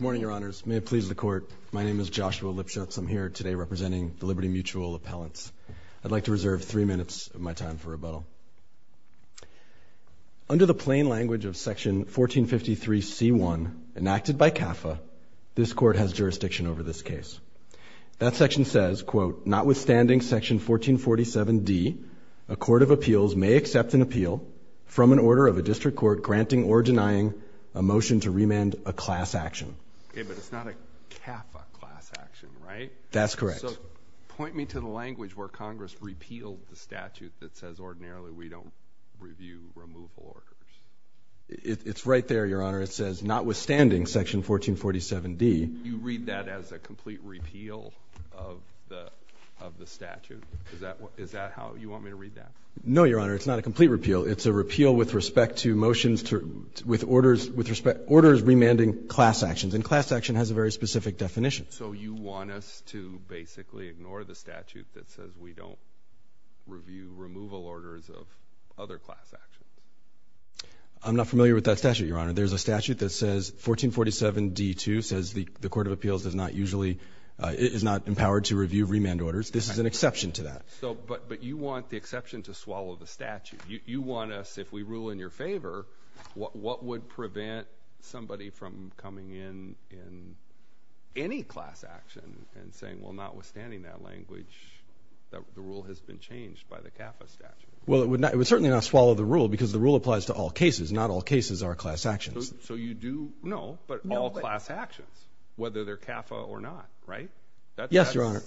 Morning, your honors. May it please the court. My name is Joshua Lipschutz. I'm here today representing the Liberty Mutual appellants. I'd like to reserve three minutes of my time for rebuttal. Under the plain language of section 1453 C1, enacted by CAFA, this court has jurisdiction over this case. That section says, quote, notwithstanding section 1447 D, a court of appeals may accept an appeal from an order of a district court granting or denying a motion to remand a class action. Okay, but it's not a CAFA class action, right? That's correct. So point me to the language where Congress repealed the statute that says ordinarily we don't review removal orders. It's right there, your honor. It says, notwithstanding section 1447 D. You read that as a complete repeal of the statute? Is that how you want me to read that? No, your honor. It's not a complete repeal. It's a repeal with respect to motions to, with orders, with respect, orders remanding class actions. And class action has a very specific definition. So you want us to basically ignore the statute that says we don't review removal orders of other class actions? I'm not familiar with that statute, your honor. There's a statute that says 1447 D2 says the court of appeals does not usually, is not empowered to review remand orders. This is an exception to that. So, but you want the exception to swallow the statute. You want us, if we rule in your favor, what would prevent somebody from coming in in any class action and saying, well, notwithstanding that language, the rule has been changed by the CAFA statute? Well, it would certainly not swallow the rule because the rule applies to all cases. Not all cases are class actions. So you do know, but all class actions, whether they're CAFA or not, right? Yes, your honor.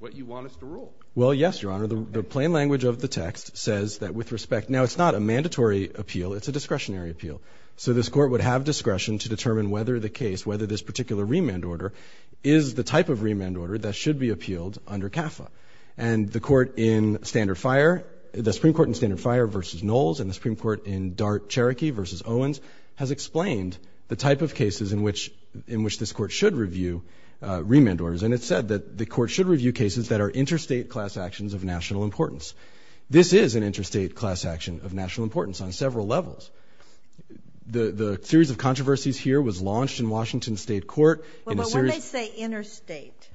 What you want us to rule? Well, yes, your honor. The plain language of the text says that with respect, now it's not a mandatory appeal. It's a discretionary appeal. So this court would have discretion to determine whether the case, whether this particular remand order is the type of remand order that should be appealed under CAFA and the court in standard fire, the Supreme Court in standard fire versus Knowles and the Supreme Court in DART Cherokee versus Owens has explained the type of cases in which, in which this court should review remand orders. And it said that the court should review cases that are interstate class actions of national importance. This is an interstate class action of national importance on several levels. The, the series of controversies here was launched in Washington State Court in a series. Well, when they say interstate,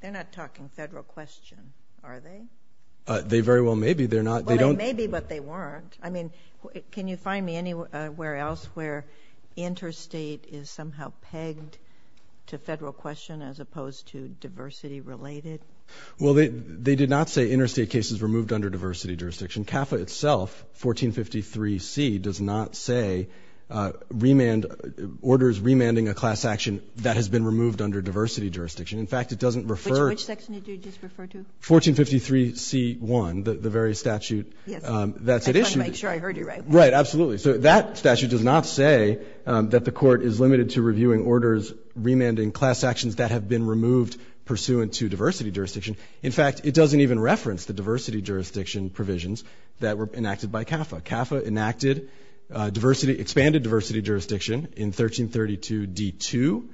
they're not talking federal question, are they? They very well may be. They're not. They don't. Well, they may be, but they weren't. I mean, can you find me anywhere else where interstate is somehow pegged to federal question as opposed to diversity related? Well, they, they did not say interstate cases removed under diversity jurisdiction. CAFA itself, 1453C, does not say remand, orders remanding a class action that has been removed under diversity jurisdiction. In fact, it doesn't refer. Which, which section did you just refer to? 1453C1, the, the very statute that's at issue. Yes. I just wanted to make sure I heard you right. Right. Absolutely. So that statute does not say that the court is limited to reviewing orders remanding class actions that have been removed pursuant to diversity jurisdiction. In fact, it doesn't even reference the diversity jurisdiction provisions that were enacted by CAFA. CAFA enacted diversity, expanded diversity jurisdiction in 1332D2.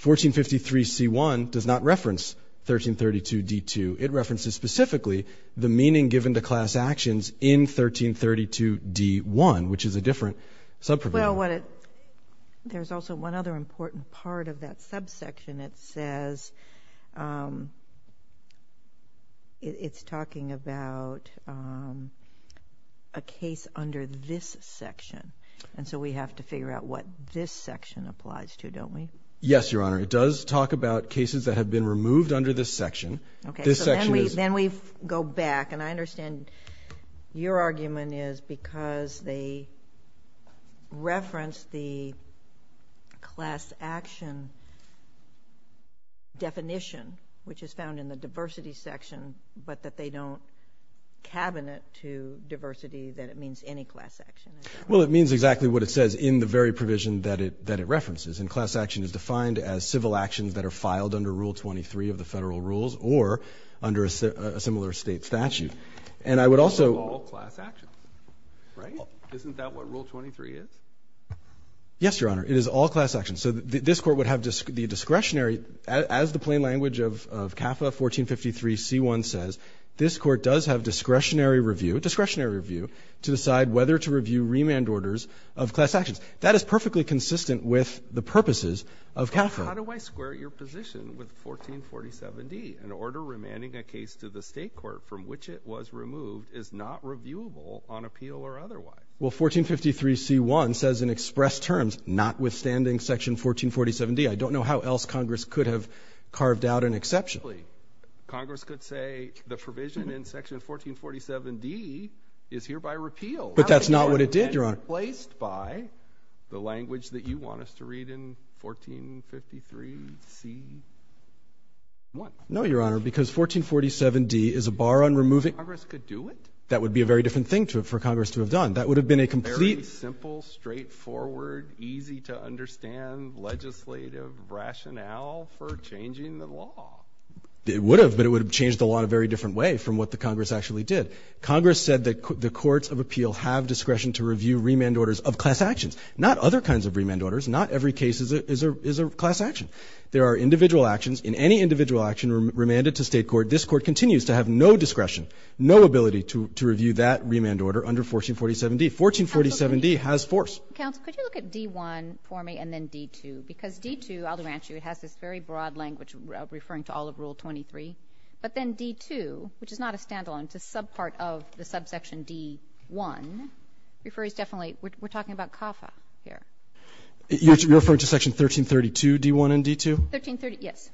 1453C1 does not reference 1332D2. It references specifically the meaning given to class actions in 1332D1, which is a different sub-provision. Well, what it, there's also one other important part of that subsection. It says, it's talking about a case under this section, and so we have to figure out what this section applies to, don't we? Yes, Your Honor. It does talk about cases that have been removed under this section. Okay. This section is... Then we, then we go back, and I understand your argument is because they reference the class action definition, which is found in the diversity section, but that they don't cabinet to diversity that it means any class action. Well, it means exactly what it says in the very And class action is defined as civil actions that are filed under Rule 23 of the federal rules or under a similar state statute. And I would also... All class actions, right? Isn't that what Rule 23 is? Yes, Your Honor. It is all class actions. So this Court would have the discretionary, as the plain language of CAFA 1453C1 says, this Court does have discretionary review, discretionary review, to decide whether to review remand orders of class actions. That is perfectly consistent with the purposes of CAFA. How do I square your position with 1447D? An order remanding a case to the state court from which it was removed is not reviewable on appeal or otherwise. Well, 1453C1 says in express terms, notwithstanding section 1447D, I don't know how else Congress could have carved out an exception. Congress could say the provision in section 1447D is hereby removed. Do you want us to read in 1453C1? No, Your Honor, because 1447D is a bar on removing... Congress could do it? That would be a very different thing for Congress to have done. That would have been a complete... Very simple, straightforward, easy to understand legislative rationale for changing the law. It would have, but it would have changed the law in a very different way from what the Congress actually did. Congress said that the courts of appeal have discretion to not every case is a class action. There are individual actions. In any individual action remanded to state court, this court continues to have no discretion, no ability to review that remand order under 1447D. 1447D has force. Counsel, could you look at D1 for me and then D2? Because D2, I'll advance you, it has this very broad language referring to all of Rule 23, but then D2, which is not a standalone, it's a subpart of the subsection D1, refers definitely, we're talking about CAFA here. You're referring to Section 1332D1 and D2? 1330, yes.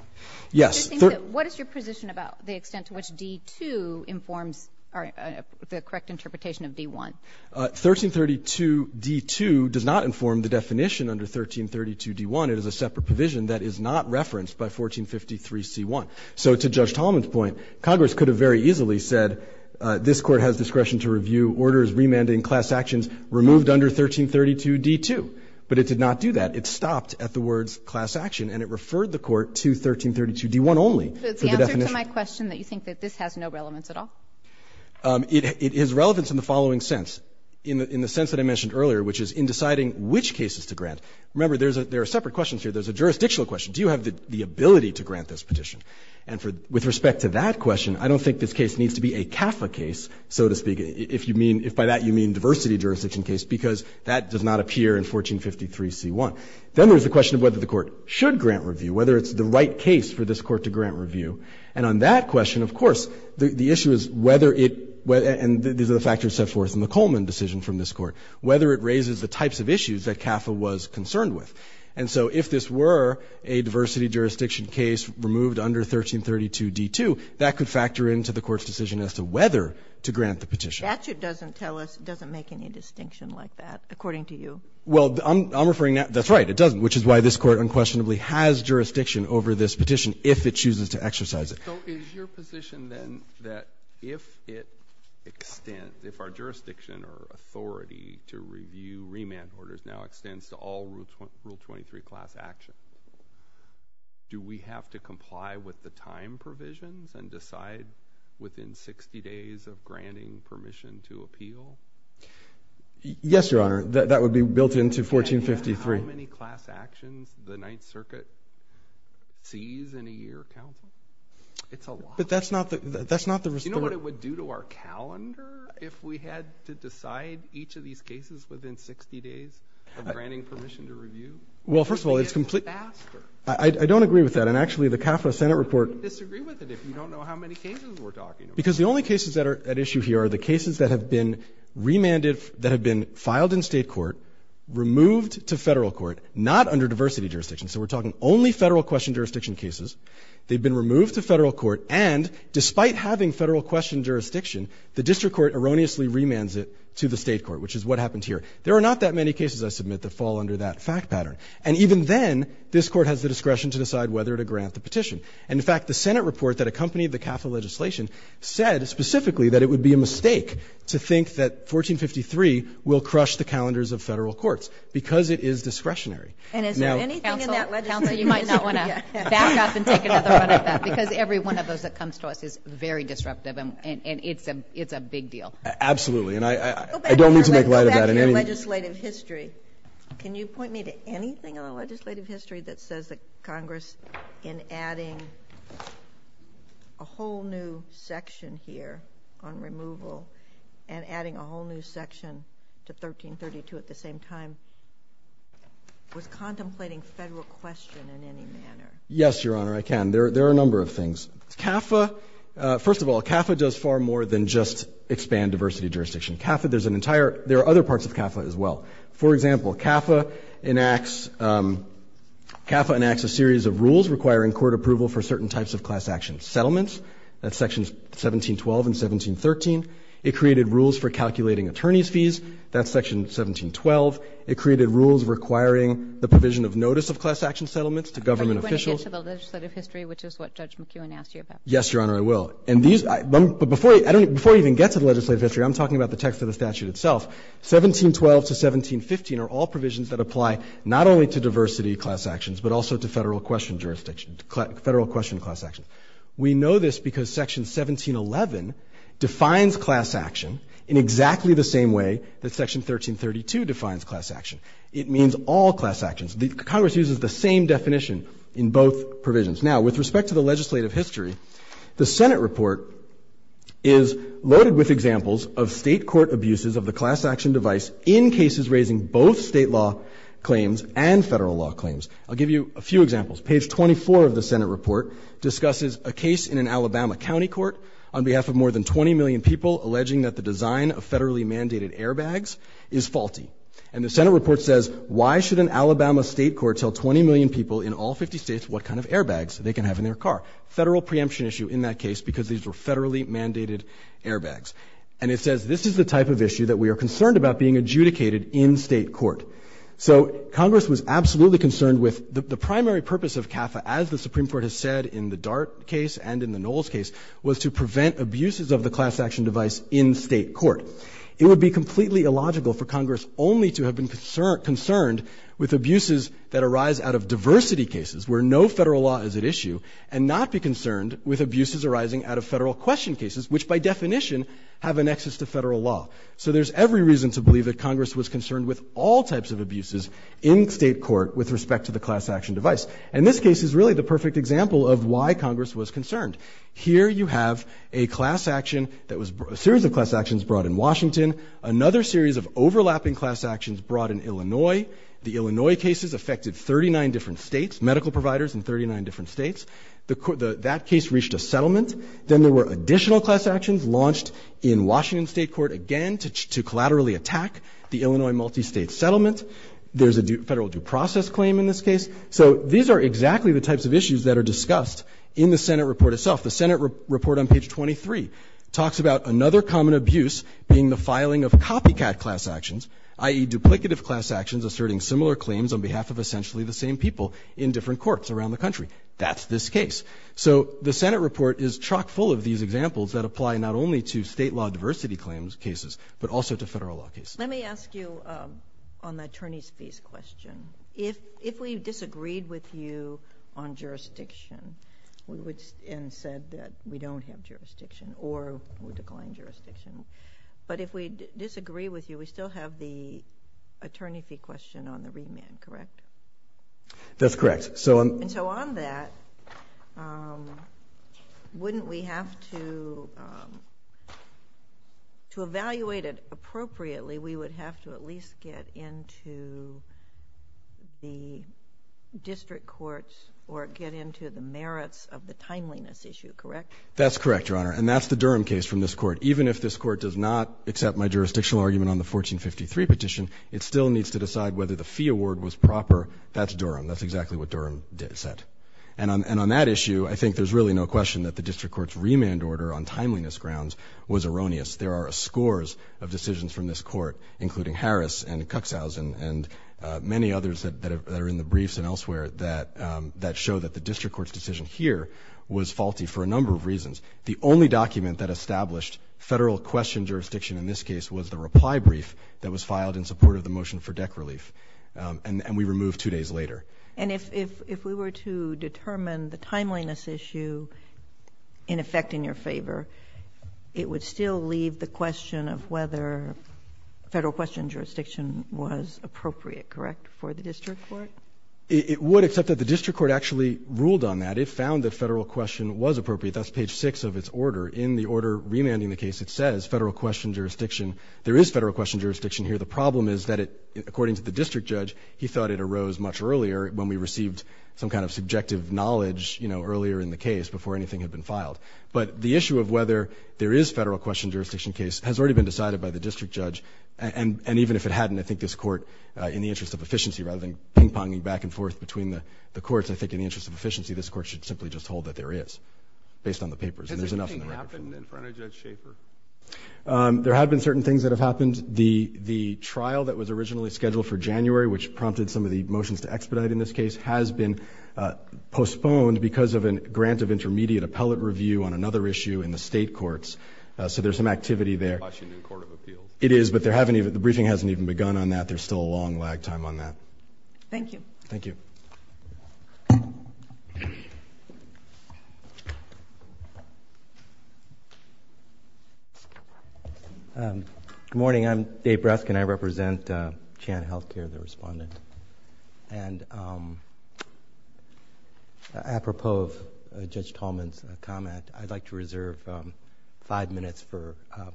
Yes. What is your position about the extent to which D2 informs the correct interpretation of D1? 1332D2 does not inform the definition under 1332D1. It is a separate provision that is not referenced by 1453C1. So to Judge Tolman's point, Congress could have very easily said this court has discretion to review orders remanded in class actions removed under 1332D2, but it did not do that. It stopped at the words class action and it referred the court to 1332D1 only. So the definition of D2 is not a standalone provision, but it is a subpart of the subsection D1. It is relevant in the following sense, in the sense that I mentioned earlier, which is in deciding which cases to grant. Remember, there are separate questions here. There's a jurisdictional question. Do you have the ability to grant this petition? And with respect to that question, I don't think this case needs to be a CAFA case, so to speak. If you mean, if by that you mean diversity jurisdiction case, because that does not appear in 1453C1. Then there's the question of whether the court should grant review, whether it's the right case for this court to grant review. And on that question, of course, the issue is whether it, and these are the factors set forth in the Coleman decision from this Court, whether it raises the types of issues that CAFA was concerned with. And so if this were a diversity jurisdiction case removed under 1332D2, that could grant the petition. The statute doesn't tell us, doesn't make any distinction like that, according to you. Well, I'm referring now, that's right, it doesn't, which is why this Court unquestionably has jurisdiction over this petition if it chooses to exercise it. So is your position then that if it extends, if our jurisdiction or authority to review remand orders now extends to all Rule 23 class actions, do we have to comply with the time provisions and decide within 60 days of granting permission to appeal? Yes, Your Honor. That would be built into 1453. And how many class actions the Ninth Circuit sees in a year, counsel? It's a lot. But that's not the, that's not the... Do you know what it would do to our calendar if we had to decide each of these cases within 60 days of granting permission to review? Well, first of all, it's completely... It's faster. I don't agree with that. And actually, the CAFRA Senate report... I wouldn't disagree with it if you don't know how many cases we're talking about. Because the only cases that are at issue here are the cases that have been remanded, that have been filed in State court, removed to Federal court, not under diversity jurisdiction. So we're talking only Federal question jurisdiction cases. They've been removed to Federal court. And despite having Federal question jurisdiction, the district court erroneously remands it to the State court, which is what happened here. There are not that many cases, I submit, that fall under that fact pattern. And even then, this court has the discretion to decide whether to grant the petition. And in fact, the Senate report that accompanied the CAFRA legislation said specifically that it would be a mistake to think that 1453 will crush the calendars of Federal courts, because it is discretionary. And is there anything in that legislation... Counsel, you might not want to back up and take another run at that. Because every one of those that comes to us is very disruptive, and it's a big deal. Absolutely. And I don't mean to make light of that. Go back to your legislative history. Can you point me to anything in the legislative history that says that Congress in adding a whole new section here on removal, and adding a whole new section to 1332 at the same time, was contemplating Federal question in any manner? Yes, Your Honor, I can. There are a number of things. CAFRA, first of all, CAFRA does far more than just expand diversity jurisdiction. CAFRA, there's an entire... There are other parts of CAFRA as well. For example, CAFRA enacts a series of rules requiring court approval for certain types of class action settlements. That's sections 1712 and 1713. It created rules for calculating attorney's fees. That's section 1712. It created rules requiring the provision of notice of class action settlements to government officials. Are you going to get to the legislative history, which is what Judge McEwen asked you about? Yes, Your Honor, I will. And these are the... But before I even get to the legislative history, I'm talking about the text of the statute itself. 1712 to 1715 are all provisions that apply not only to diversity class actions, but also to Federal question jurisdiction, Federal question class action. We know this because section 1711 defines class action in exactly the same way that section 1332 defines class action. It means all class actions. Congress uses the same definition in both provisions. Now, with respect to the legislative history, the Senate report is loaded with state court abuses of the class action device in cases raising both state law claims and Federal law claims. I'll give you a few examples. Page 24 of the Senate report discusses a case in an Alabama county court on behalf of more than 20 million people alleging that the design of Federally mandated airbags is faulty. And the Senate report says, why should an Alabama state court tell 20 million people in all 50 states what kind of airbags they can have in their car? Federal preemption issue in that case because these were Federally mandated airbags. And it says this is the type of issue that we are concerned about being adjudicated in state court. So Congress was absolutely concerned with the primary purpose of CAFA, as the Supreme Court has said in the Dart case and in the Knowles case, was to prevent abuses of the class action device in state court. It would be completely illogical for Congress only to have been concerned with abuses that arise out of diversity cases where no Federal law is at issue and not be concerned with abuses arising out of Federal question cases, which by definition have a nexus to Federal law. So there's every reason to believe that Congress was concerned with all types of abuses in state court with respect to the class action device. And this case is really the perfect example of why Congress was concerned. Here you have a class action that was, a series of class actions brought in Washington, another series of overlapping class actions brought in Illinois. The Illinois cases affected 39 different states, medical providers in 39 different states. That case reached a settlement. Then there were additional class actions launched in Washington state court again to collaterally attack the Illinois multi-state settlement. There's a Federal due process claim in this case. So these are exactly the types of issues that are discussed in the Senate report itself. The Senate report on page 23 talks about another common abuse being the filing of copycat class actions, i.e. duplicative class actions asserting similar claims on behalf of essentially the same people in different courts around the country. That's this case. So the Senate report is chock full of these examples that apply not only to state law diversity claims cases, but also to Federal law cases. Let me ask you on the attorney's fees question. If we disagreed with you on jurisdiction, we would, and said that we don't have jurisdiction or would decline jurisdiction. But if we disagree with you, we still have the attorney fee question on the remand, correct? That's correct. And so on that, wouldn't we have to evaluate it appropriately? We would have to at least get into the district courts or get into the merits of the timeliness issue, correct? That's correct, Your Honor. And that's the Durham case from this court. Even if this court does not accept my jurisdictional argument on the 1453 petition, it still needs to decide whether the fee award was proper. That's Durham. That's exactly what Durham said. And on that issue, I think there's really no question that the district court's remand order on timeliness grounds was erroneous. There are scores of decisions from this court, including Harris and Cuxhausen and many others that are in the briefs and elsewhere that show that the district court's decision here was faulty for a number of reasons. The only document that established federal question jurisdiction in this case was the reply brief that was filed in support of the motion for deck relief, and we removed two days later. And if we were to determine the timeliness issue in effect in your favor, it would still leave the question of whether federal question jurisdiction was appropriate, correct, for the district court? It would, except that the district court actually ruled on that. It found that federal question was appropriate. That's page six of its order. In the order remanding the case, it says federal question jurisdiction. There is federal question jurisdiction here. The problem is that it, according to the district judge, he thought it arose much earlier when we received some kind of subjective knowledge, you know, earlier in the case before anything had been filed. But the issue of whether there is federal question jurisdiction case has already been decided by the district judge. And even if it hadn't, I think this court, in the interest of efficiency, rather than ping-ponging back and forth between the courts, I think in the interest of efficiency, this court should simply just hold that there is, based on the papers. And there's enough in the record. Has this thing happened in front of Judge Schaefer? There have been certain things that have happened. The trial that was originally scheduled for January, which prompted some of the motions to expedite in this case, has been postponed because of a grant of intermediate appellate review on another issue in the state courts. So there's some activity there. Washington Court of Appeals. It is, but the briefing hasn't even begun on that. There's still a long lag time on that. Thank you. Thank you. Good morning. I'm Dave Breskin. I represent Chan Health Care, the respondent. And apropos of Judge Tolman's comment, I'd like to reserve five minutes for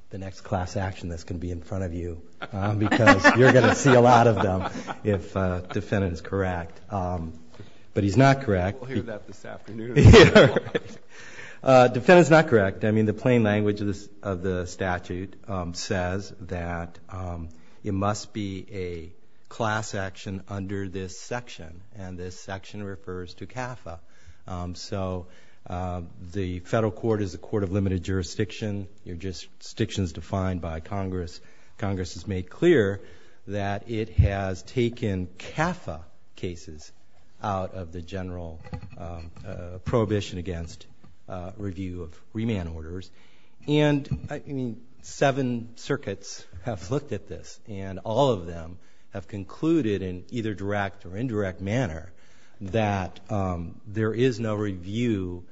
the next class action that's going to be in front of you, because you're going to see a lot of them if the defendant is correct. But he's not correct. We'll hear that this afternoon. Defendant's not correct. I mean, the plain language of the statute says that it must be a class action under this section. And this section refers to CAFA. So the federal court is a court of limited jurisdiction. Your jurisdiction is defined by Congress. Congress has made clear that it has taken CAFA cases out of the general prohibition against review of remand orders. And seven circuits have looked at this. And all of them have concluded in either direct or indirect manner that there is no review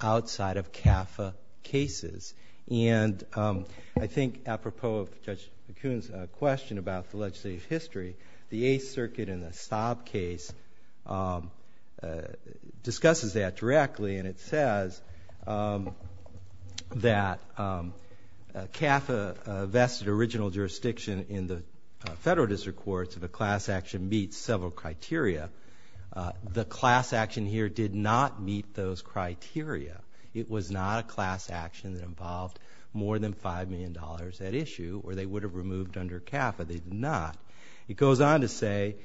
outside of CAFA cases. And I think apropos of Judge McCoon's question about the legislative history, the Eighth Circuit in the Saab case discusses that directly. And it says that CAFA vested original jurisdiction in the federal district courts of a class action meets several criteria. The class action here did not meet those criteria. It was not a class action that involved more than $5 million at issue or they would have removed under CAFA. They did not. It goes on to say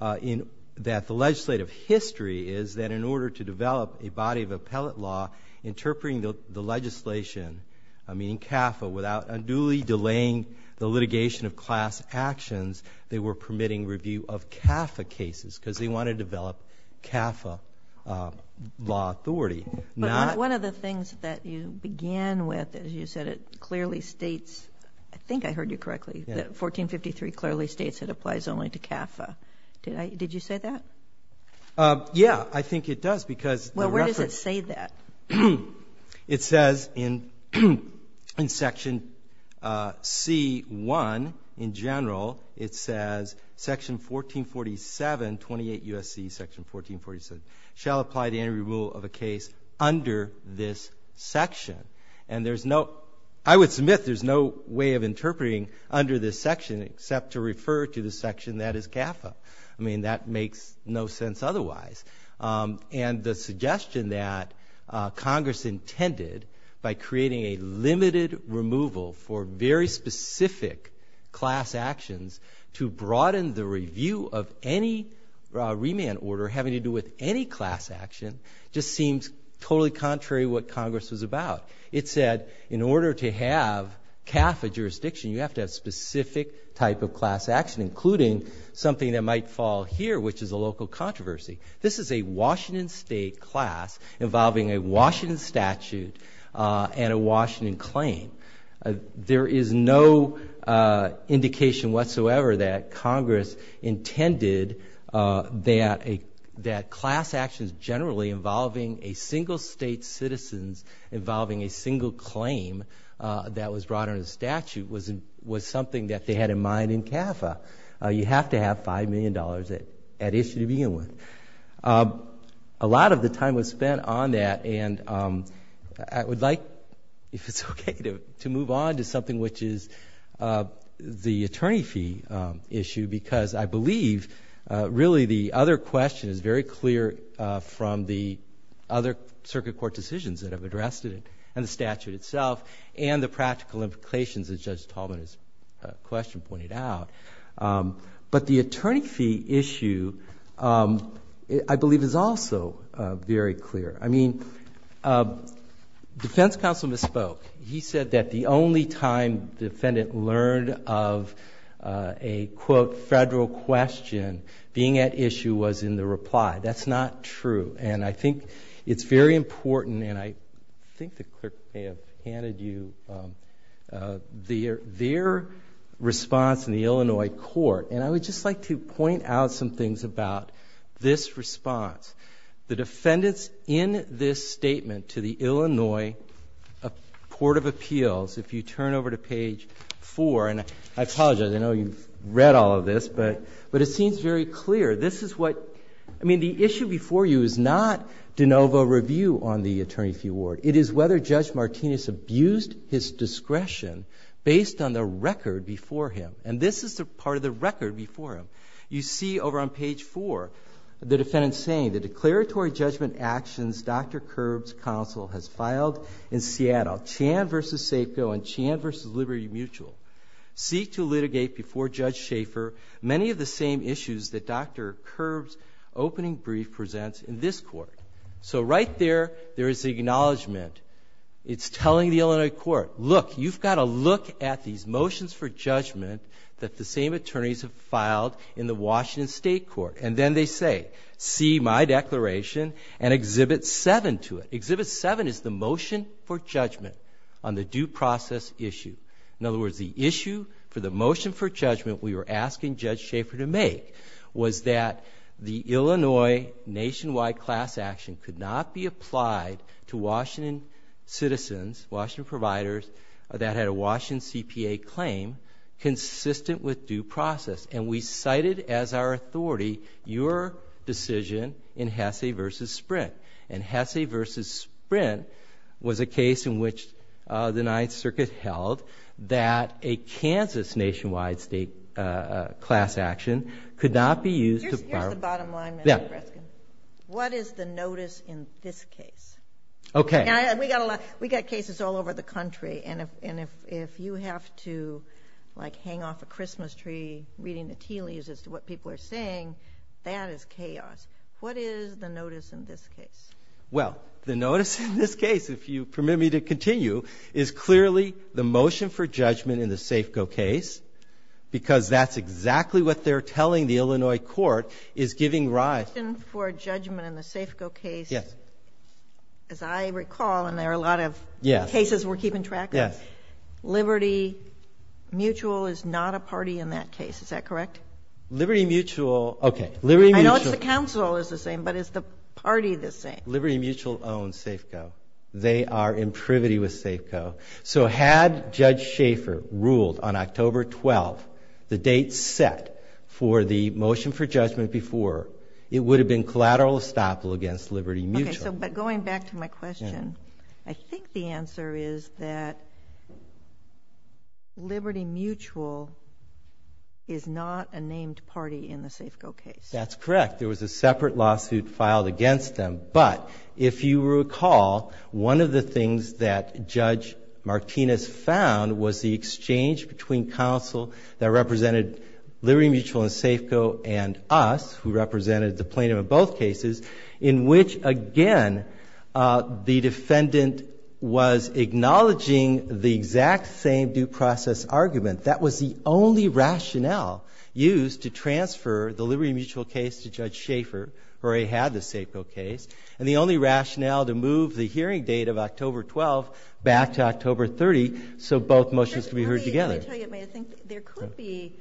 that the legislative history is that in order to develop a body of appellate law interpreting the legislation, meaning CAFA, without unduly delaying the litigation of class actions, they were permitting review of CAFA cases because they wanted to develop CAFA law authority. One of the things that you began with, as you said, it clearly states, I think I heard you correctly, that 1453 clearly states it applies only to CAFA. Did you say that? Yeah, I think it does because- Well, where does it say that? It says in section C1 in general, it says section 1447, 28 USC section 1447, shall apply to any rule of a case under this section. And there's no, I would submit there's no way of interpreting under this section except to refer to the section that is CAFA. I mean, that makes no sense otherwise. And the suggestion that Congress intended by creating a limited removal for very specific class actions to broaden the review of any remand order having to do with any class action just seems totally contrary to what Congress was about. It said, in order to have CAFA jurisdiction, you have to have specific type of class action, including something that might fall here, which is a local controversy. This is a Washington state class involving a Washington statute and a Washington claim. There is no indication whatsoever that Congress intended that class actions generally involving a single state citizens, involving a single claim that was brought under the statute was something that they had in mind in CAFA, you have to have $5 million at issue to begin with. A lot of the time was spent on that, and I would like, if it's okay, to move on to something which is the attorney fee issue. Because I believe, really, the other question is very clear from the other circuit court decisions that have addressed it, and the statute itself, and the practical implications, as Judge Tallman's question pointed out. But the attorney fee issue, I believe, is also very clear. I mean, defense counsel misspoke. He said that the only time defendant learned of a, quote, federal question being at issue was in the reply. That's not true, and I think it's very important, and I think the clerk may have handed you their response in the Illinois court. And I would just like to point out some things about this response. The defendants in this statement to the Illinois Port of Appeals, if you turn over to page four, and I apologize, I know you've read all of this, but it seems very clear, this is what, I mean, the issue before you is not de novo review on the attorney fee award. It is whether Judge Martinez abused his discretion based on the record before him. And this is the part of the record before him. You see over on page four, the defendant's saying, the declaratory judgment actions Dr. Kerb's counsel has filed in Seattle, Chan versus Safeco, and Chan versus Liberty Mutual, seek to litigate before Judge Schaefer many of the same issues that Dr. Kerb's opening brief presents in this court. So right there, there is acknowledgement. It's telling the Illinois court, look, you've gotta look at these motions for in the Washington State Court, and then they say, see my declaration and exhibit seven to it. Exhibit seven is the motion for judgment on the due process issue. In other words, the issue for the motion for judgment we were asking Judge Schaefer to make was that the Illinois nationwide class action could not be applied to Washington citizens, Washington providers that had a Washington CPA claim consistent with due process. And we cited as our authority your decision in Hesse versus Sprint. And Hesse versus Sprint was a case in which the Ninth Circuit held that a Kansas nationwide state class action could not be used to- Here's the bottom line, Mr. Preskin. What is the notice in this case? Okay. We got cases all over the country. And if you have to hang off a Christmas tree reading the tea leaves as to what people are saying, that is chaos. What is the notice in this case? Well, the notice in this case, if you permit me to continue, is clearly the motion for judgment in the Safeco case, because that's exactly what they're telling the Illinois court is giving rise- The motion for judgment in the Safeco case, as I recall, and there are a lot of cases we're keeping track of, Liberty Mutual is not a party in that case. Is that correct? Liberty Mutual- Okay. I know it's the council is the same, but is the party the same? Liberty Mutual owns Safeco. They are in privity with Safeco. So had Judge Schaefer ruled on October 12th, the date set for the motion for judgment before, it would have been collateral estoppel against Liberty Mutual. But going back to my question, I think the answer is that Liberty Mutual is not a named party in the Safeco case. That's correct. There was a separate lawsuit filed against them, but if you recall, one of the things that Judge Martinez found was the exchange between counsel that represented Liberty Mutual and Safeco and us, who represented the plaintiff in both cases, in which, again, the defendant was acknowledging the exact same due process argument. That was the only rationale used to transfer the Liberty Mutual case to Judge Schaefer, who already had the Safeco case, and the only rationale to move the hearing date of October 12th back to October 30th, so both motions could be heard together. Let me tell you, I think there could be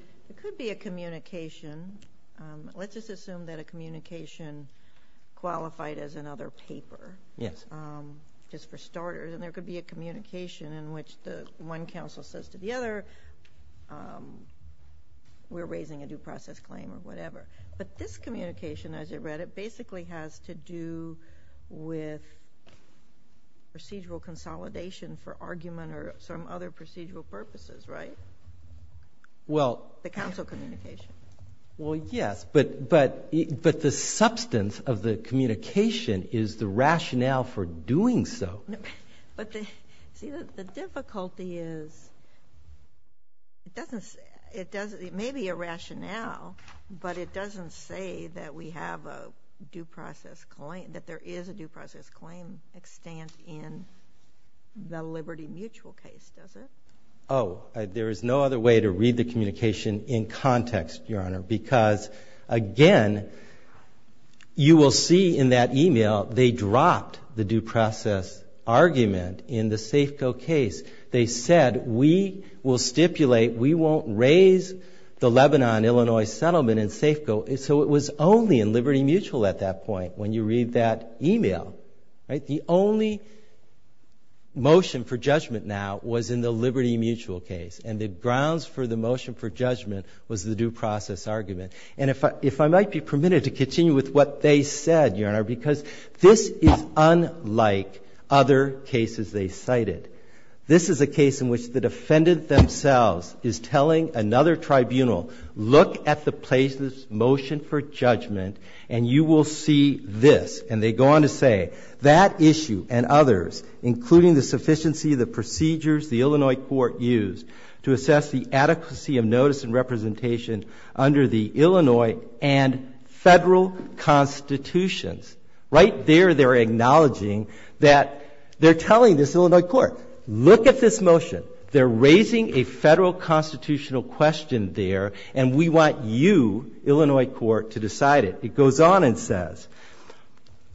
a communication. Let's just assume that a communication qualified as another paper, just for starters, and there could be a communication in which one counsel says to the other, we're raising a due process claim or whatever. But this communication, as you read it, basically has to do with procedural consolidation for argument or some other procedural purposes, right? The counsel communication. Well, yes, but the substance of the communication is the rationale for doing so. But see, the difficulty is, it may be a rationale, but it doesn't say that we have a due process claim, that there is a due process claim extent in the Liberty Mutual case, does it? Oh, there is no other way to read the communication in context, Your Honor, because, again, you will see in that email, they dropped the due process argument in the Safeco case. They said, we will stipulate, we won't raise the Lebanon-Illinois settlement in Safeco. So it was only in Liberty Mutual at that point, when you read that email, right? The only motion for judgment now was in the Liberty Mutual case, and the grounds for the motion for judgment was the due process argument. And if I might be permitted to continue with what they said, Your Honor, because this is unlike other cases they cited. This is a case in which the defendant themselves is telling another tribunal, look at the motion for judgment, and you will see this. And they go on to say, that issue and others, including the sufficiency of the procedures the Illinois court used to assess the adequacy of notice and representation under the Illinois and federal constitutions. Right there, they're acknowledging that they're telling this Illinois court, look at this motion, they're raising a federal constitutional question there, and we want you, Illinois court, to decide it. It goes on and says,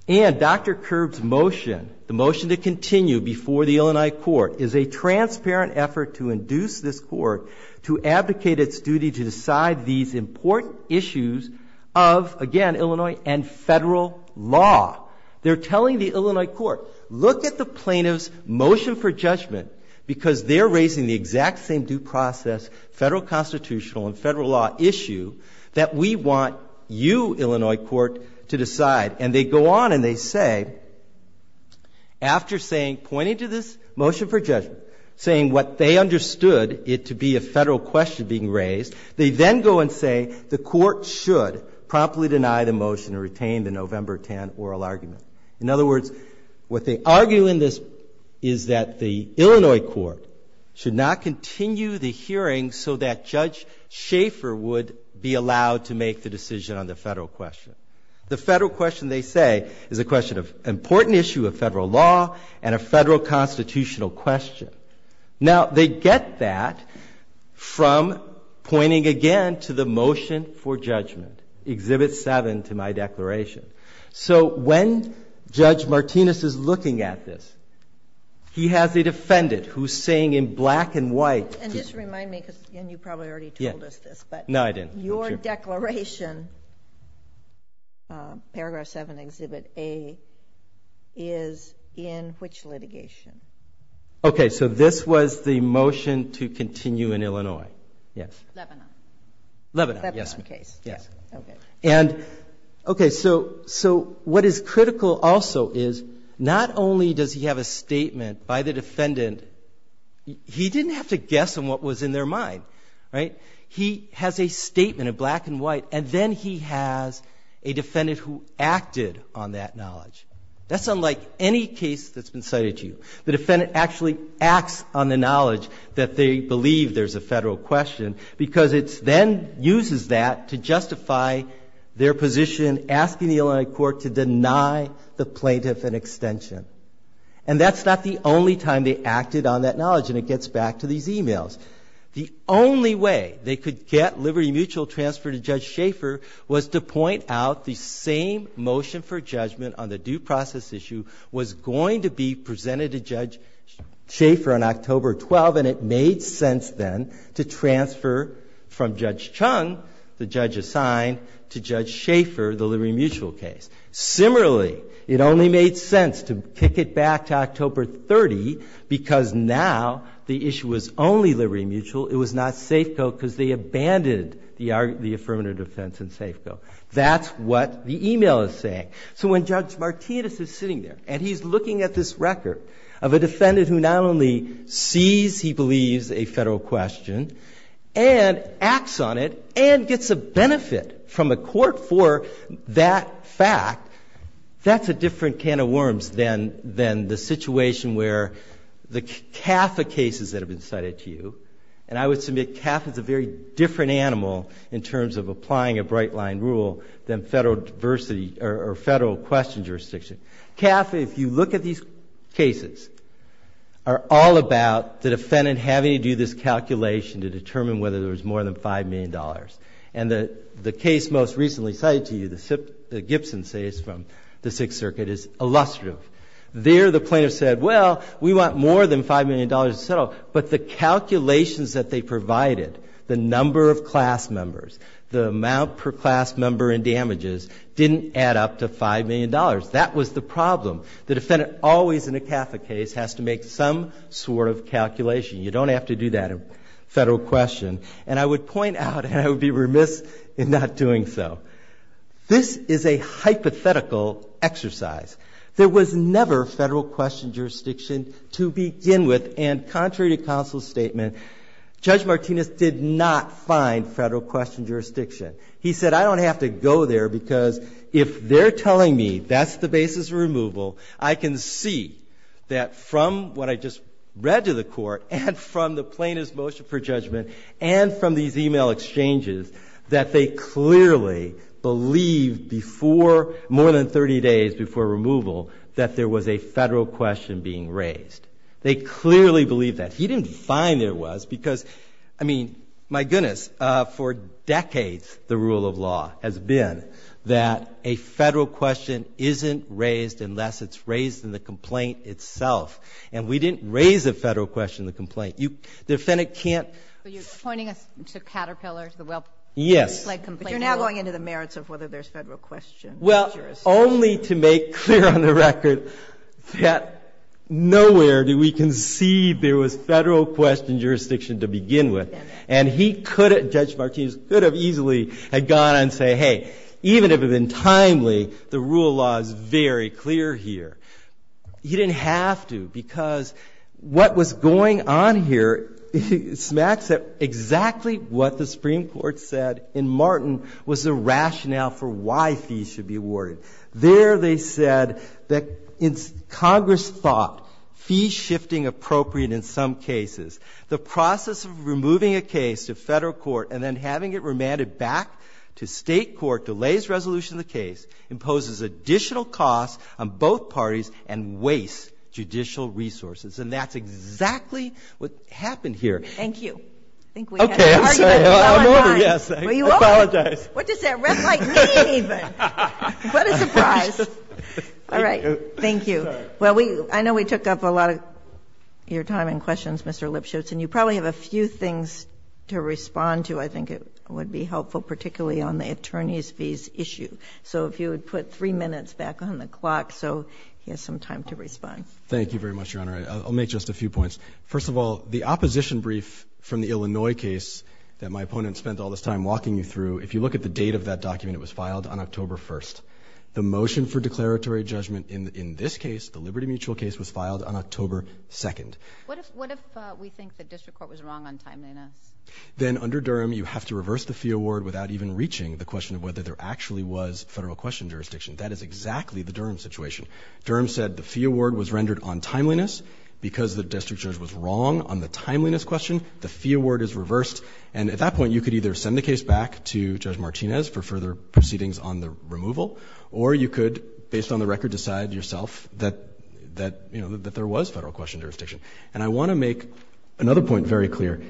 and Dr. Kerb's motion, the motion to continue before the Illinois court, is a transparent effort to induce this court to abdicate its duty to decide these important issues of, again, Illinois and federal law. They're telling the Illinois court, look at the plaintiff's motion for judgment, because they're raising the exact same due process, federal constitutional and Illinois court, to decide. And they go on and they say, after pointing to this motion for judgment, saying what they understood it to be a federal question being raised, they then go and say the court should promptly deny the motion and retain the November 10 oral argument. In other words, what they argue in this is that the Illinois court should not continue the hearing so that Judge Schaefer would be allowed to make the decision on the federal question. The federal question, they say, is a question of important issue of federal law and a federal constitutional question. Now, they get that from pointing again to the motion for judgment, Exhibit 7 to my declaration. So when Judge Martinez is looking at this, he has a defendant who's saying in black and white- Your declaration, Paragraph 7, Exhibit A, is in which litigation? Okay, so this was the motion to continue in Illinois, yes. Lebanon. Lebanon, yes. Lebanon case, yeah, okay. And, okay, so what is critical also is, not only does he have a statement by the defendant. He didn't have to guess on what was in their mind, right? He has a statement in black and white, and then he has a defendant who acted on that knowledge. That's unlike any case that's been cited to you. The defendant actually acts on the knowledge that they believe there's a federal question, because it then uses that to justify their position asking the Illinois court to deny the plaintiff an extension. And that's not the only time they acted on that knowledge, and it gets back to these emails. The only way they could get Liberty Mutual transferred to Judge Schaefer was to point out the same motion for judgment on the due process issue was going to be presented to Judge Schaefer on October 12th, and it made sense then to transfer from Judge Chung, the judge assigned, to Judge Schaefer, the Liberty Mutual case. Similarly, it only made sense to kick it back to October 30, because now the issue was only Liberty Mutual. It was not Safeco, because they abandoned the affirmative defense and Safeco. That's what the email is saying. So when Judge Martinez is sitting there, and he's looking at this record of a defendant who not only sees, he believes, a federal question, and acts on it, and gets a benefit from a court for that fact, that's a different can of worms than the situation where the CAFA cases that have been cited to you, and I would submit CAFA is a very different animal in terms of applying a bright line rule than federal diversity or federal question jurisdiction. CAFA, if you look at these cases, are all about the defendant having to do this calculation to determine whether there's more than $5 million. And the case most recently cited to you, the Gibson case from the Sixth Circuit, is illustrative. There, the plaintiff said, well, we want more than $5 million to settle. But the calculations that they provided, the number of class members, the amount per class member in damages, didn't add up to $5 million. That was the problem. The defendant, always in a CAFA case, has to make some sort of calculation. You don't have to do that in federal question. And I would point out, and I would be remiss in not doing so, this is a hypothetical exercise. There was never federal question jurisdiction to begin with. And contrary to counsel's statement, Judge Martinez did not find federal question jurisdiction. He said, I don't have to go there because if they're telling me that's the basis of removal, I can see that from what I just read to the court and from the plaintiff's motion for judgment and from these email exchanges, that they clearly believed before, more than 30 days before removal, that there was a federal question being raised. They clearly believed that. He didn't find there was because, I mean, my goodness, for decades the rule of law has been that a federal question isn't raised unless it's raised in the complaint itself. And we didn't raise a federal question in the complaint. The defendant can't- But you're pointing us to Caterpillar, to the Weld- Yes. But you're now going into the merits of whether there's federal question jurisdiction. Well, only to make clear on the record that nowhere do we concede there was federal question jurisdiction to begin with. And he could have, Judge Martinez could have easily had gone and say, hey, even if it had been timely, the rule of law is very clear here. He didn't have to, because what was going on here smacks at exactly what the Supreme Court said in Martin was the rationale for why fees should be awarded. There they said that Congress thought fees shifting appropriate in some cases. The process of removing a case to federal court and then having it remanded back to state court delays resolution of the case, imposes additional costs on both parties and wastes judicial resources. And that's exactly what happened here. Thank you. I think we had an argument well on time. I'm sorry, I'm over, yes, I apologize. What does that rep like mean even? What a surprise. All right. Thank you. Well, I know we took up a lot of your time and questions, Mr. Lipschutz, and you probably have a few things to respond to, I think it would be helpful, particularly on the attorney's fees issue. So if you would put three minutes back on the clock, so he has some time to respond. Thank you very much, Your Honor. I'll make just a few points. First of all, the opposition brief from the Illinois case that my opponent spent all this time walking you through, if you look at the date of that document, it was filed on October 1st. The motion for declaratory judgment in this case, the Liberty Mutual case, was filed on October 2nd. What if we think the district court was wrong on timeliness? Then under Durham, you have to reverse the fee award without even reaching the question of whether there actually was federal question jurisdiction. That is exactly the Durham situation. Durham said the fee award was rendered on timeliness. Because the district judge was wrong on the timeliness question, the fee award is reversed. And at that point, you could either send the case back to Judge Martinez for further proceedings on the removal. Or you could, based on the record, decide yourself that there was federal question jurisdiction. And I want to make another point very clear.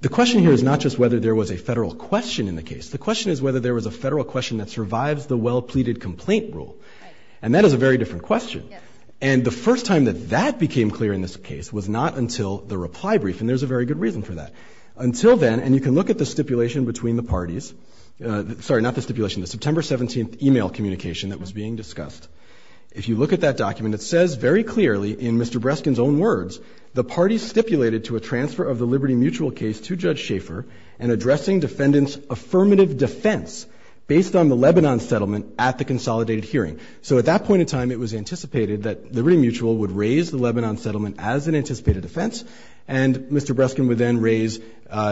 The question here is not just whether there was a federal question in the case. The question is whether there was a federal question that survives the well-pleaded complaint rule. And that is a very different question. And the first time that that became clear in this case was not until the reply brief. And there's a very good reason for that. Until then, and you can look at the stipulation between the parties, sorry, not the stipulation, the September 17th email communication that was being discussed. If you look at that document, it says very clearly in Mr. Breskin's own words, the party stipulated to a transfer of the Liberty Mutual case to Judge Schaefer, and addressing defendant's affirmative defense based on the Lebanon settlement at the consolidated hearing. So at that point in time, it was anticipated that the Liberty Mutual would raise the Lebanon settlement as an anticipated defense. And Mr. Breskin would then raise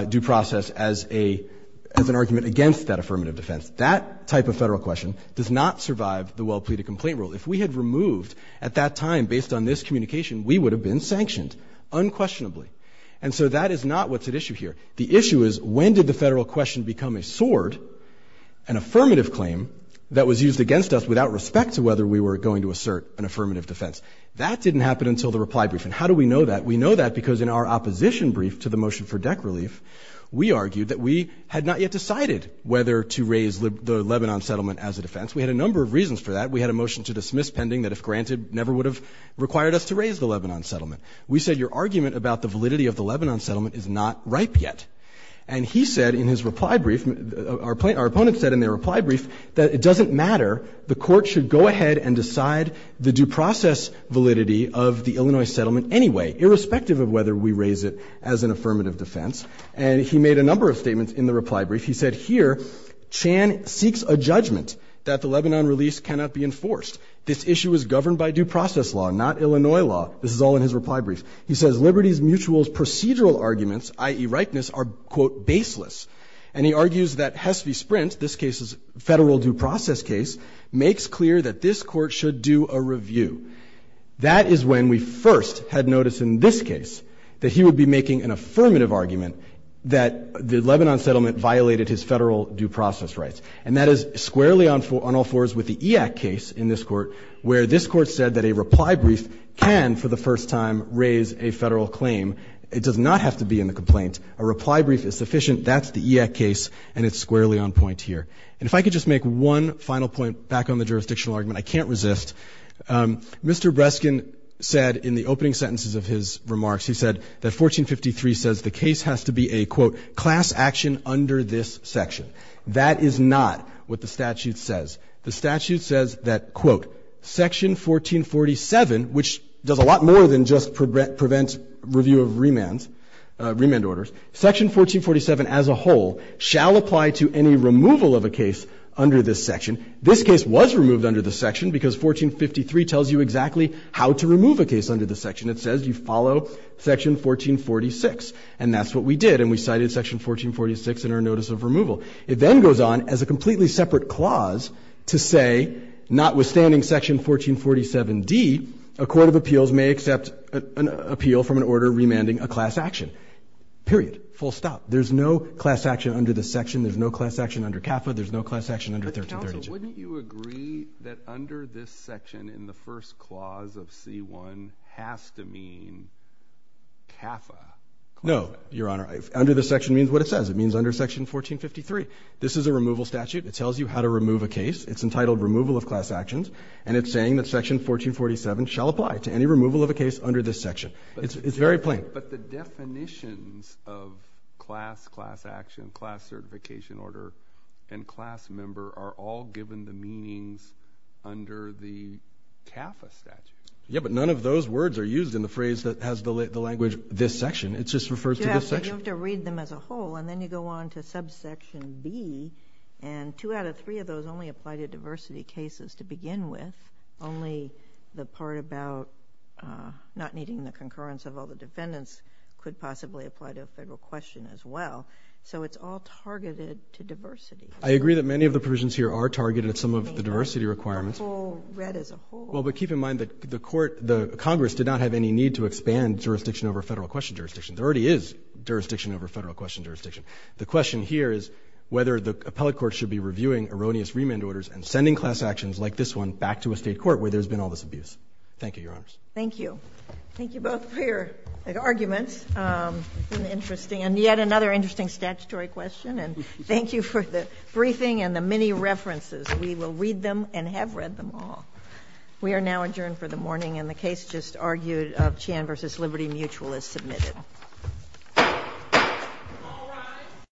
due process as an argument against that affirmative defense. That type of federal question does not survive the well-pleaded complaint rule. If we had removed at that time, based on this communication, we would have been sanctioned unquestionably. And so that is not what's at issue here. The issue is, when did the federal question become a sword, an affirmative claim that was used against us without respect to whether we were going to assert an affirmative defense? That didn't happen until the reply briefing. How do we know that? We know that because in our opposition brief to the motion for deck relief, we argued that we had not yet decided whether to raise the Lebanon settlement as a defense. We had a number of reasons for that. We had a motion to dismiss pending that if granted, never would have required us to raise the Lebanon settlement. We said your argument about the validity of the Lebanon settlement is not ripe yet. And he said in his reply brief, our opponent said in their reply brief, that it doesn't matter. The court should go ahead and decide the due process validity of the Illinois settlement anyway, irrespective of whether we raise it as an affirmative defense. And he made a number of statements in the reply brief. He said here, Chan seeks a judgment that the Lebanon release cannot be enforced. This issue is governed by due process law, not Illinois law. This is all in his reply brief. He says Liberty Mutual's procedural arguments, i.e. rightness, are quote, baseless. And he argues that Hess v. Sprint, this case's federal due process case, makes clear that this court should do a review. That is when we first had noticed in this case that he would be making an affirmative argument that the Lebanon settlement violated his federal due process rights. And that is squarely on all fours with the EAC case in this court, where this court said that a reply brief can, for the first time, raise a federal claim. It does not have to be in the complaint. A reply brief is sufficient. That's the EAC case, and it's squarely on point here. And if I could just make one final point back on the jurisdictional argument, I can't resist. Mr. Breskin said in the opening sentences of his remarks, he said that 1453 says the case has to be a quote, class action under this section. That is not what the statute says. The statute says that quote, section 1447, which does a lot more than just prevent review of remands, remand orders. Section 1447 as a whole shall apply to any removal of a case under this section. This case was removed under this section because 1453 tells you exactly how to remove a case under this section. It says you follow section 1446. And that's what we did, and we cited section 1446 in our notice of removal. It then goes on as a completely separate clause to say notwithstanding section 1447D, a court of appeals may accept an appeal from an order remanding a class action, period, full stop. There's no class action under this section. There's no class action under CAFA. There's no class action under 1332. But counsel, wouldn't you agree that under this section in the first clause of C1 has to mean CAFA? No, Your Honor. Under this section means what it says. It means under section 1453. This is a removal statute. It tells you how to remove a case. It's entitled removal of class actions, and it's saying that section 1447 shall apply to any removal of a case under this section. It's very plain. But the definitions of class, class action, class certification order, and class member are all given the meanings under the CAFA statute. Yeah, but none of those words are used in the phrase that has the language this section. It just refers to this section. You have to read them as a whole, and then you go on to subsection B, and two out of three of those only apply to diversity cases to begin with. Only the part about not needing the concurrence of all the defendants could possibly apply to a federal question as well. So it's all targeted to diversity. I agree that many of the provisions here are targeted at some of the diversity requirements. I mean, the whole read as a whole. Well, but keep in mind that the court, the Congress did not have any need to expand jurisdiction over federal question jurisdiction. There already is jurisdiction over federal question jurisdiction. The question here is whether the appellate court should be reviewing erroneous remand orders and sending class actions like this one back to a State court where there's been all this abuse. Thank you, Your Honors. Thank you. Thank you both for your arguments. It's been interesting, and yet another interesting statutory question. And thank you for the briefing and the many references. We will read them and have read them all. We are now adjourned for the morning, and the case just argued of Chan v. Liberty Mutual is submitted. All right.